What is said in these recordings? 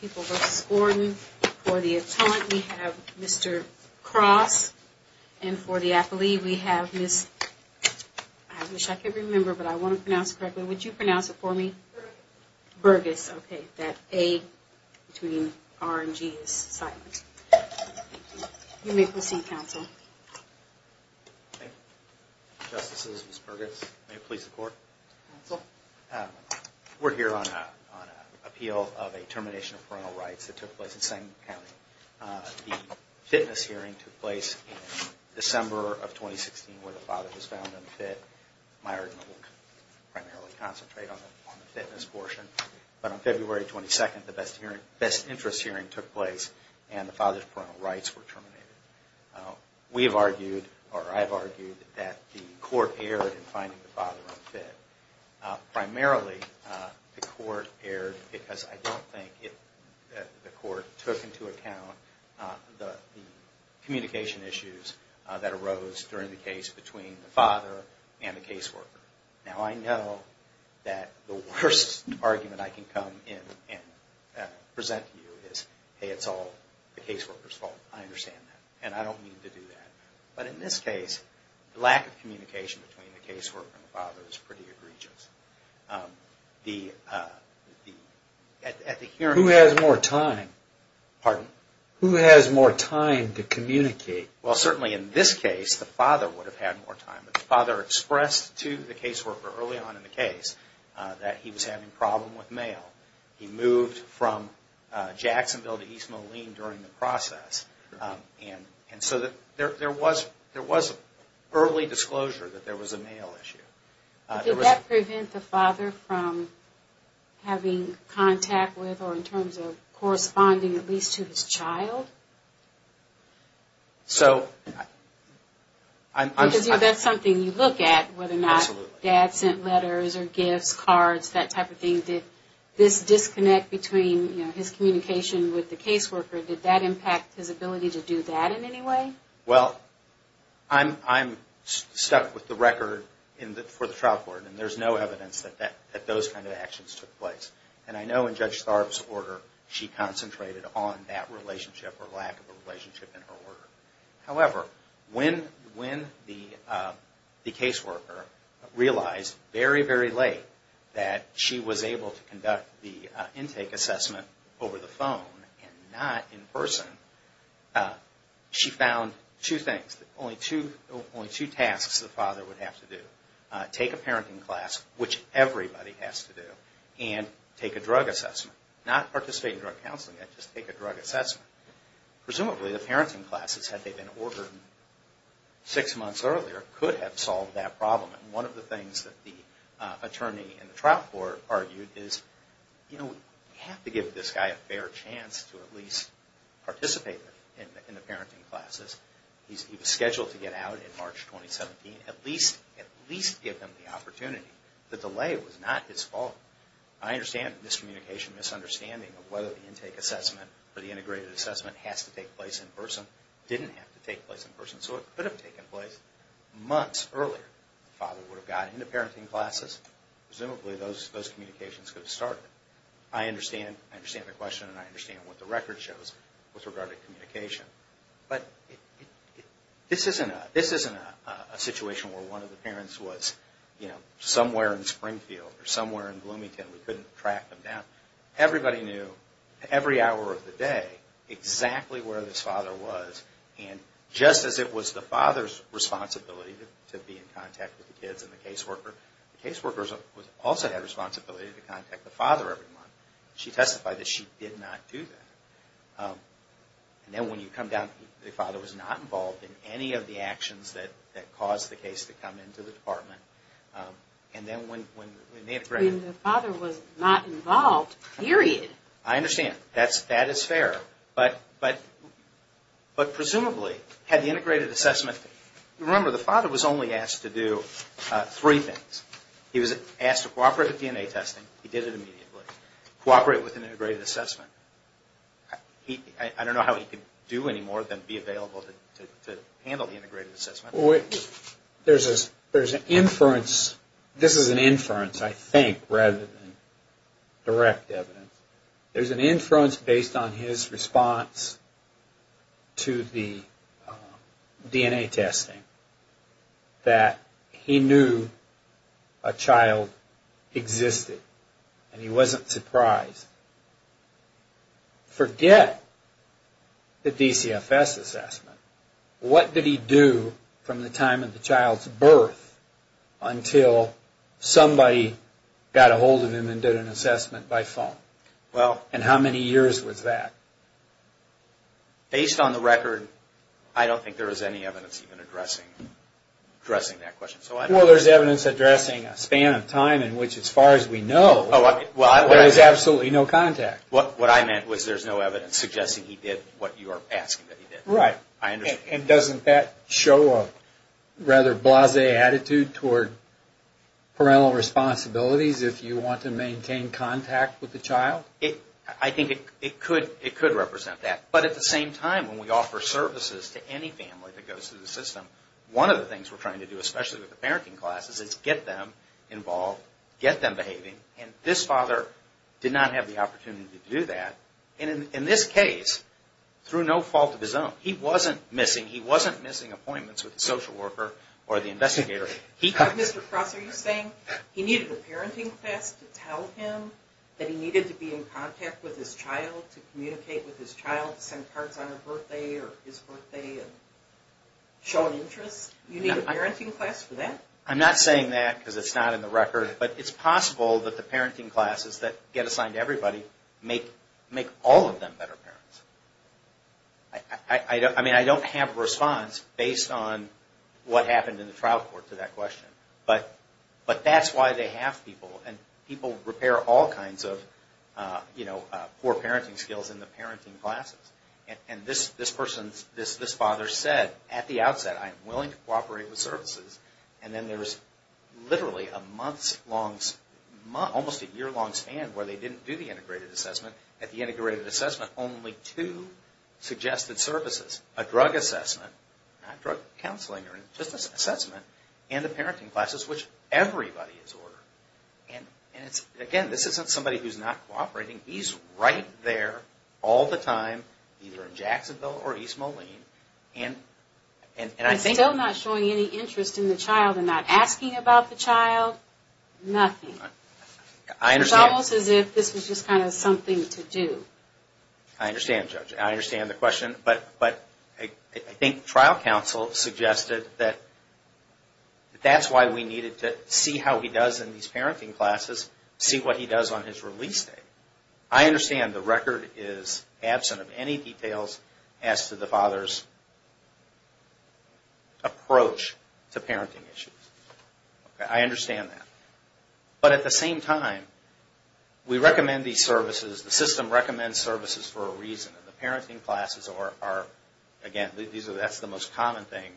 People v. Gordon. For the attorney, we have Mr. Cross. And for the athlete, we have Ms., I wish I could remember, but I want to pronounce it correctly. Would you pronounce it for me? Bergus. Bergus, okay. That A between R and G is silent. You may proceed, counsel. Thank you. Justices, Ms. Bergus, may it please the Court? Counsel? We're here on an appeal of a termination of parental rights that took place in Sangamon County. The fitness hearing took place in December of 2016 where the father was found unfit. My argument will primarily concentrate on the fitness portion. But on February 22nd, the best interest hearing took place and the father's parental rights were terminated. We have argued, or I have argued, that the Court erred in finding the father unfit. Primarily, the Court erred because I don't think the Court took into account the communication issues that arose during the case between the father and the caseworker. Now, I know that the worst argument I can come in and present to you is, hey, it's all the caseworker's fault. I understand that. And I don't mean to do that. But in this case, the lack of communication between the caseworker and the father is pretty egregious. Who has more time? Pardon? Who has more time to communicate? Well, certainly in this case, the father would have had more time. The father expressed to the caseworker early on in the case that he was having a problem with mail. He moved from Jacksonville to East Moline during the process. And so there was early disclosure that there was a mail issue. Did that prevent the father from having contact with or in terms of corresponding at least to his child? Because that's something you look at, whether or not dad sent letters or gifts, cards, that type of thing. Did this disconnect between his communication with the caseworker, did that impact his ability to do that in any way? Well, I'm stuck with the record for the trial court. And there's no evidence that those kind of actions took place. And I know in Judge Tharpe's order, she concentrated on that relationship or lack of a relationship in her order. However, when the caseworker realized very, very late that she was able to conduct the intake assessment over the phone and not in person, she found two things, only two tasks the father would have to do. Take a parenting class, which everybody has to do, and take a drug assessment. Not participate in drug counseling, just take a drug assessment. Presumably the parenting classes, had they been ordered six months earlier, could have solved that problem. And one of the things that the attorney in the trial court argued is, you know, we have to give this guy a fair chance to at least participate in the parenting classes. He was scheduled to get out in March 2017. At least give him the opportunity. The delay was not his fault. I understand this communication misunderstanding of whether the intake assessment or the integrated assessment has to take place in person. It didn't have to take place in person, so it could have taken place months earlier. The father would have gotten into parenting classes. Presumably those communications could have started. I understand the question and I understand what the record shows with regard to communication. But this isn't a situation where one of the parents was somewhere in Springfield or somewhere in Bloomington and we couldn't track them down. Everybody knew, every hour of the day, exactly where this father was. And just as it was the father's responsibility to be in contact with the kids and the caseworker, the caseworker also had a responsibility to contact the father every month. She testified that she did not do that. And then when you come down, the father was not involved in any of the actions that caused the case to come into the department. And then when they integrated... The father was not involved, period. I understand. That is fair. But presumably, had the integrated assessment... Remember, the father was only asked to do three things. He was asked to cooperate with DNA testing. He did it immediately. Cooperate with an integrated assessment. I don't know how he could do any more than be available to handle the integrated assessment. There's an inference. This is an inference, I think, rather than direct evidence. There's an inference based on his response to the DNA testing that he knew a child existed and he wasn't surprised. Forget the DCFS assessment. What did he do from the time of the child's birth until somebody got a hold of him and did an assessment by phone? And how many years was that? Based on the record, I don't think there was any evidence even addressing that question. Well, there's evidence addressing a span of time in which, as far as we know, there was absolutely no contact. What I meant was there's no evidence suggesting he did what you are asking that he did. Right. And doesn't that show a rather blasé attitude toward parental responsibilities if you want to maintain contact with the child? I think it could represent that. But at the same time, when we offer services to any family that goes through the system, one of the things we're trying to do, especially with the parenting class, is get them involved, get them behaving. And this father did not have the opportunity to do that. And in this case, through no fault of his own, he wasn't missing appointments with the social worker or the investigator. Mr. Cross, are you saying he needed a parenting class to tell him that he needed to be in contact with his child, to communicate with his child, to send cards on their birthday or his birthday and show an interest? You need a parenting class for that? I'm not saying that because it's not in the record. But it's possible that the parenting classes that get assigned to everybody make all of them better parents. I mean, I don't have a response based on what happened in the trial court to that question. But that's why they have people. And people repair all kinds of poor parenting skills in the parenting classes. And this father said at the outset, I'm willing to cooperate with services. And then there was literally a month's, almost a year-long span where they didn't do the integrated assessment. At the integrated assessment, only two suggested services, a drug assessment, not drug counseling, just an assessment, and the parenting classes, which everybody is ordered. And again, this isn't somebody who's not cooperating. He's right there all the time, either in Jacksonville or East Moline. And still not showing any interest in the child and not asking about the child, nothing. It's almost as if this was just kind of something to do. I understand, Judge. I understand the question. But I think trial counsel suggested that that's why we needed to see how he does in these parenting classes, see what he does on his release day. I understand the record is absent of any details as to the father's approach to parenting issues. I understand that. But at the same time, we recommend these services. The system recommends services for a reason. And the parenting classes are, again, that's the most common thing,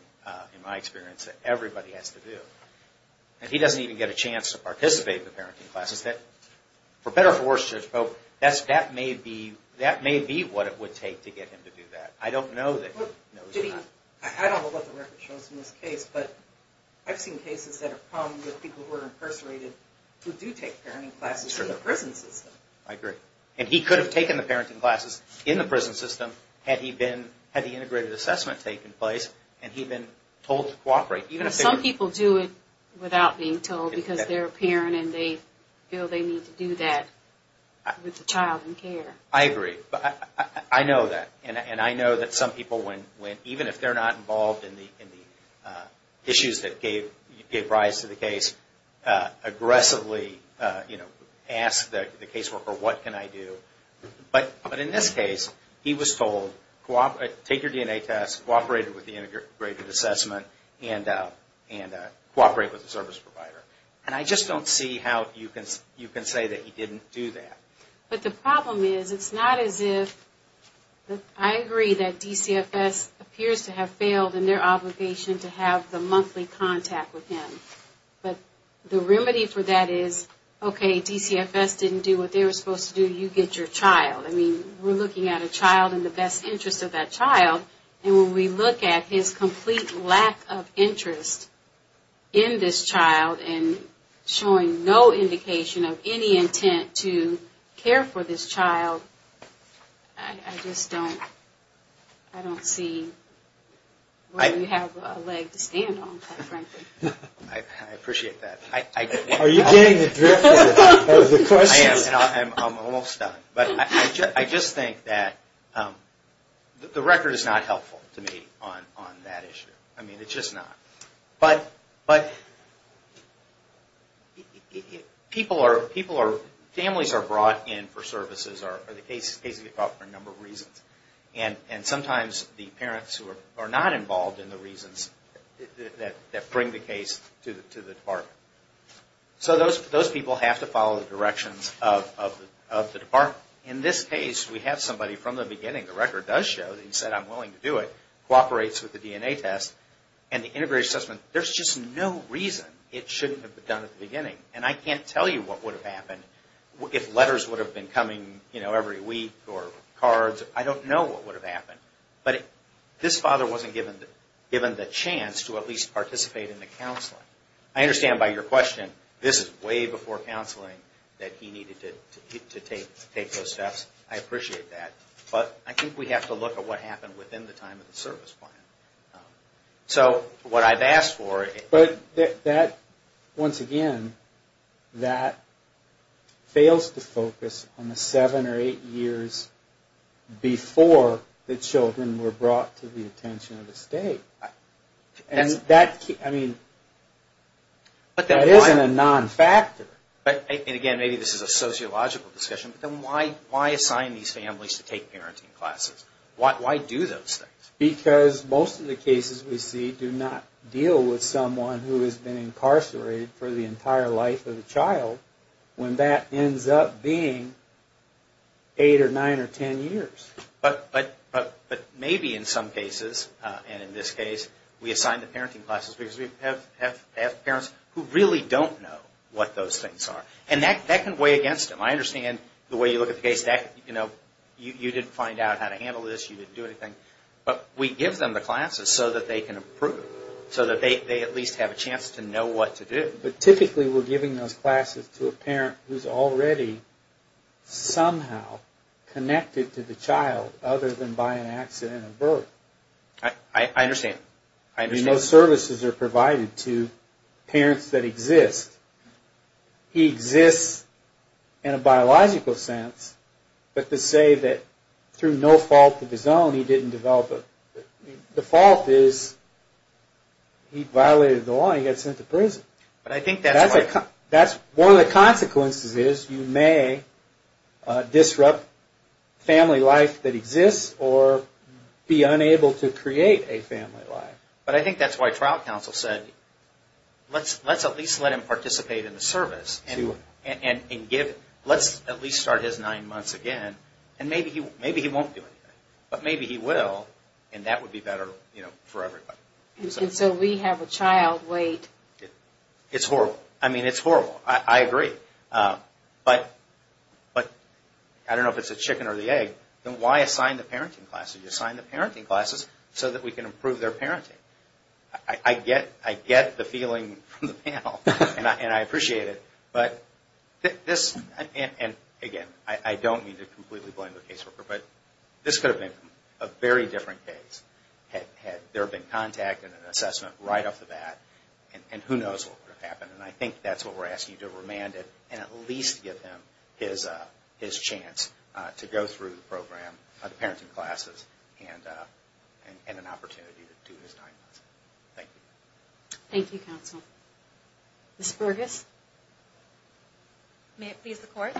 in my experience, that everybody has to do. And he doesn't even get a chance to participate in the parenting classes. For better or for worse, Judge Pope, that may be what it would take to get him to do that. I don't know what the record shows in this case, but I've seen cases that have come with people who are incarcerated who do take parenting classes in the prison system. I agree. And he could have taken the parenting classes in the prison system had the integrated assessment taken place and he been told to cooperate. Some people do it without being told because they're a parent and they feel they need to do that with the child in care. I agree. I know that. And I know that some people, even if they're not involved in the issues that gave rise to the case, aggressively ask the caseworker, what can I do? But in this case, he was told, take your DNA test, cooperate with the integrated assessment, and cooperate with the service provider. And I just don't see how you can say that he didn't do that. But the problem is, it's not as if, I agree that DCFS appears to have failed in their obligation to have the monthly contact with him. But the remedy for that is, okay, DCFS didn't do what they were supposed to do, you get your child. I mean, we're looking at a child and the best interest of that child, and when we look at his complete lack of interest in this child and showing no indication of any intent to care for this child, I just don't see where we have a leg to stand on, quite frankly. I appreciate that. Are you getting the drift of the questions? I am, and I'm almost done. But I just think that the record is not helpful to me on that issue. I mean, it's just not. But families are brought in for services, or the cases get brought in for a number of reasons. And sometimes the parents who are not involved in the reasons that bring the case to the department. So those people have to follow the directions of the department. In this case, we have somebody from the beginning, the record does show that he said, I'm willing to do it, cooperates with the DNA test. And the integrated assessment, there's just no reason it shouldn't have been done at the beginning. And I can't tell you what would have happened if letters would have been coming every week or cards. I don't know what would have happened. But this father wasn't given the chance to at least participate in the counseling. I understand by your question, this is way before counseling that he needed to take those steps. I appreciate that. But I think we have to look at what happened within the time of the service plan. So what I've asked for... But that, once again, that fails to focus on the seven or eight years before the children were brought to the attention of the state. And that, I mean, that isn't a non-factor. And again, maybe this is a sociological discussion, but then why assign these families to take parenting classes? Why do those things? Because most of the cases we see do not deal with someone who has been incarcerated for the entire life of the child, when that ends up being eight or nine or ten years. But maybe in some cases, and in this case, we assign the parenting classes because we have parents who really don't know what those things are. And that can weigh against them. I understand the way you look at the case. You didn't find out how to handle this. You didn't do anything. But we give them the classes so that they can improve, so that they at least have a chance to know what to do. But typically, we're giving those classes to a parent who's already somehow connected to the child, other than by an accident of birth. I understand. No services are provided to parents that exist. He exists in a biological sense, but to say that through no fault of his own, he didn't develop a... The fault is he violated the law and he got sent to prison. But I think that's why... One of the consequences is you may disrupt family life that exists or be unable to create a family life. But I think that's why trial counsel said, let's at least let him participate in the service. And let's at least start his nine months again. And maybe he won't do anything. But maybe he will, and that would be better for everybody. And so we have a child wait... It's horrible. I mean, it's horrible. I agree. But I don't know if it's the chicken or the egg. Then why assign the parenting classes? You assign the parenting classes so that we can improve their parenting. I get the feeling from the panel, and I appreciate it. But this... And again, I don't mean to completely blame the caseworker. But this could have been a very different case had there been contact and an assessment right off the bat. And who knows what would have happened. And I think that's what we're asking. To remand it and at least give him his chance to go through the program, the parenting classes, and an opportunity to do his nine months. Thank you. Thank you, counsel. Ms. Burgess. May it please the court.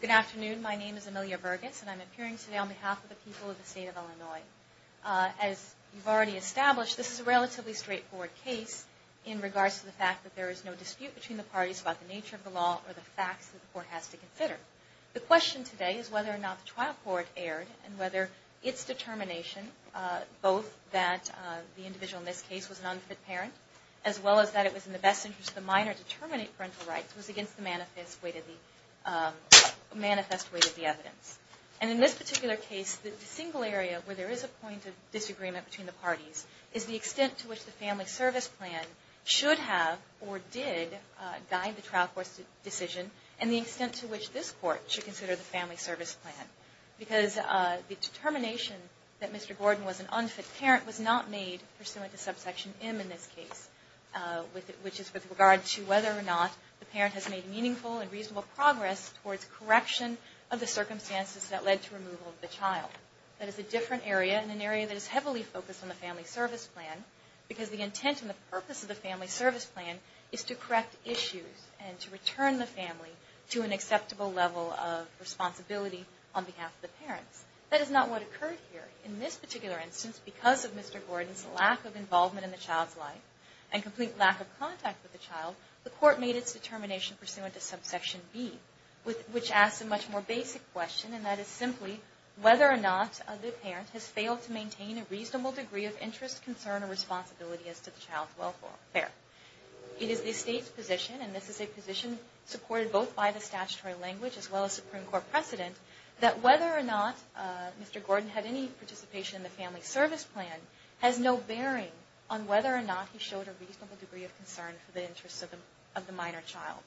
Good afternoon. My name is Amelia Burgess, and I'm appearing today on behalf of the people of the state of Illinois. As you've already established, this is a relatively straightforward case in regards to the fact that there is no dispute between the parties about the nature of the law or the facts that the court has to consider. The question today is whether or not the trial court erred and whether its determination, both that the individual in this case was an unfit parent, as well as that it was in the best interest of the minor to terminate parental rights, was against the manifest weight of the evidence. And in this particular case, the single area where there is a point of disagreement between the parties is the extent to which the family service plan should have or did guide the trial court's decision and the extent to which this court should consider the family service plan. Because the determination that Mr. Gordon was an unfit parent was not made pursuant to subsection M in this case, which is with regard to whether or not the parent has made meaningful and reasonable progress towards correction of the circumstances that led to removal of the child. That is a different area and an area that is heavily focused on the family service plan, because the intent and the purpose of the family service plan is to correct issues and to return the family to an acceptable level of responsibility on behalf of the parents. That is not what occurred here. In this particular instance, because of Mr. Gordon's lack of involvement in the child's life and complete lack of contact with the child, the court made its determination pursuant to subsection B, which asks a much more basic question, and that is simply whether or not the parent has failed to maintain a reasonable degree of interest, concern, or responsibility as to the child's welfare. It is the state's position, and this is a position supported both by the statutory language as well as Supreme Court precedent, that whether or not Mr. Gordon had any participation in the family service plan has no bearing on whether or not he showed a reasonable degree of concern for the interests of the minor child.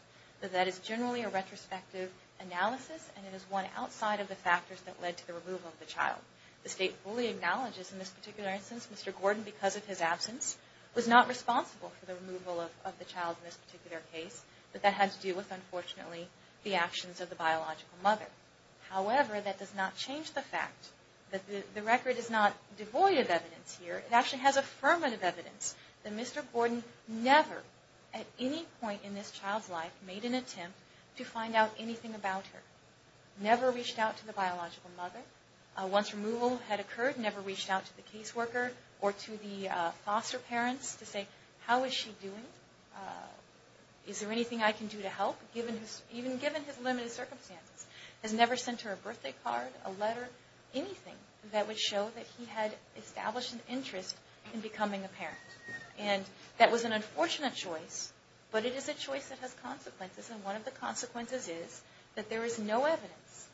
That is generally a retrospective analysis, and it is one outside of the factors that led to the removal of the child. The state fully acknowledges in this particular instance Mr. Gordon, because of his absence, was not responsible for the removal of the child in this particular case, but that had to do with, unfortunately, the actions of the biological mother. However, that does not change the fact that the record is not devoid of evidence here. It actually has affirmative evidence that Mr. Gordon never, at any point in this child's life, made an attempt to find out anything about her. Never reached out to the biological mother. Once removal had occurred, never reached out to the caseworker or to the foster parents to say, how is she doing? Is there anything I can do to help, even given his limited circumstances? Has never sent her a birthday card, a letter, anything that would show that he had established an interest in becoming a parent. And that was an unfortunate choice, but it is a choice that has consequences, and one of the consequences is that there is no evidence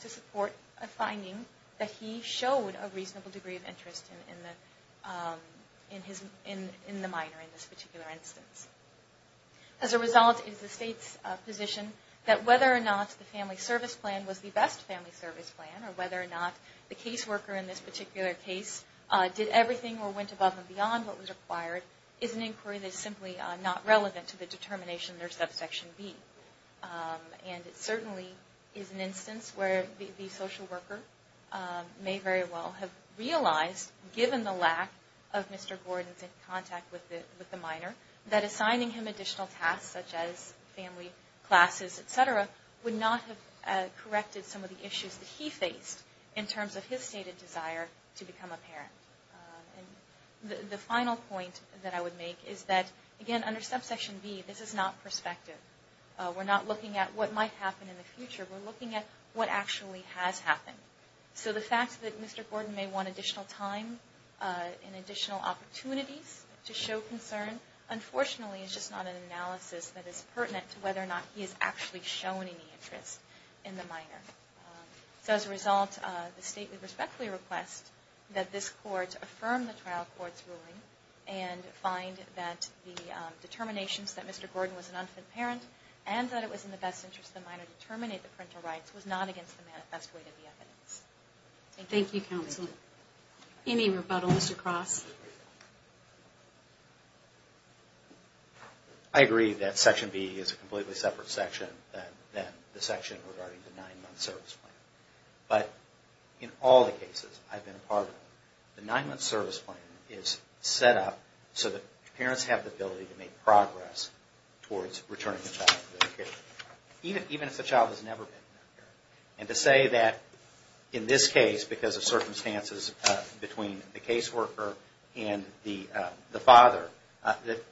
to support a finding that he showed a reasonable degree of interest in the minor in this particular instance. As a result, it is the state's position that whether or not the family service plan was the best family service plan, or whether or not the caseworker in this particular case did everything or went above and beyond what was required, is an inquiry that is simply not relevant to the determination in their subsection B. And it certainly is an instance where the social worker may very well have realized, given the lack of Mr. Gordon's contact with the minor, that assigning him additional tasks, such as family, classes, et cetera, would not have corrected some of the issues that he faced in terms of his stated desire to become a parent. The final point that I would make is that, again, under subsection B, this is not perspective. We're not looking at what might happen in the future. We're looking at what actually has happened. So the fact that Mr. Gordon may want additional time and additional opportunities to show concern, unfortunately is just not an analysis that is pertinent to whether or not he has actually shown any interest in the minor. So as a result, the State would respectfully request that this Court affirm the trial court's ruling and find that the determinations that Mr. Gordon was an unfit parent, and that it was in the best interest of the minor to terminate the parental rights, was not against the manifest weight of the evidence. Thank you, Counsel. Any rebuttal, Mr. Cross? I agree that section B is a completely separate section than the section regarding the nine-month service plan. But in all the cases I've been a part of, the nine-month service plan is set up so that parents have the ability to make progress towards returning the child to their care, even if the child has never been a parent. And to say that in this case, because of circumstances between the caseworker and the father,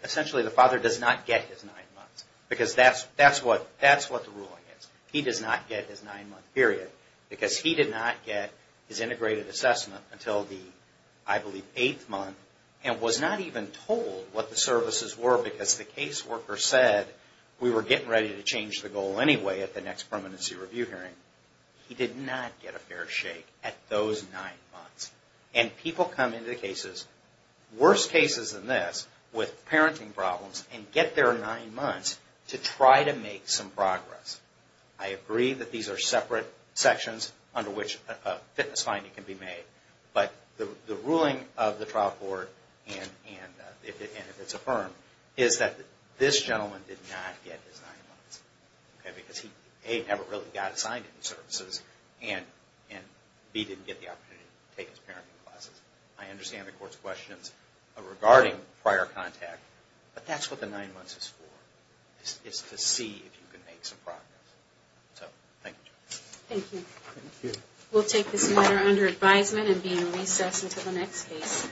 essentially the father does not get his nine months, because that's what the ruling is. He does not get his nine-month period, because he did not get his integrated assessment until the, I believe, eighth month, and was not even told what the services were, because the caseworker said, we were getting ready to change the goal anyway at the next permanency review hearing. He did not get a fair shake at those nine months. And people come into cases, worse cases than this, with parenting problems, and get their nine months to try to make some progress. I agree that these are separate sections under which a fitness finding can be made, but the ruling of the trial board, and if it's affirmed, is that this gentleman did not get his nine months. Because he, A, never really got assigned any services, and B, didn't get the opportunity to take his parenting classes. I understand the court's questions regarding prior contact, but that's what the nine months is for. It's to see if you can make some progress. We'll take this matter under advisement and be in recess until the next case.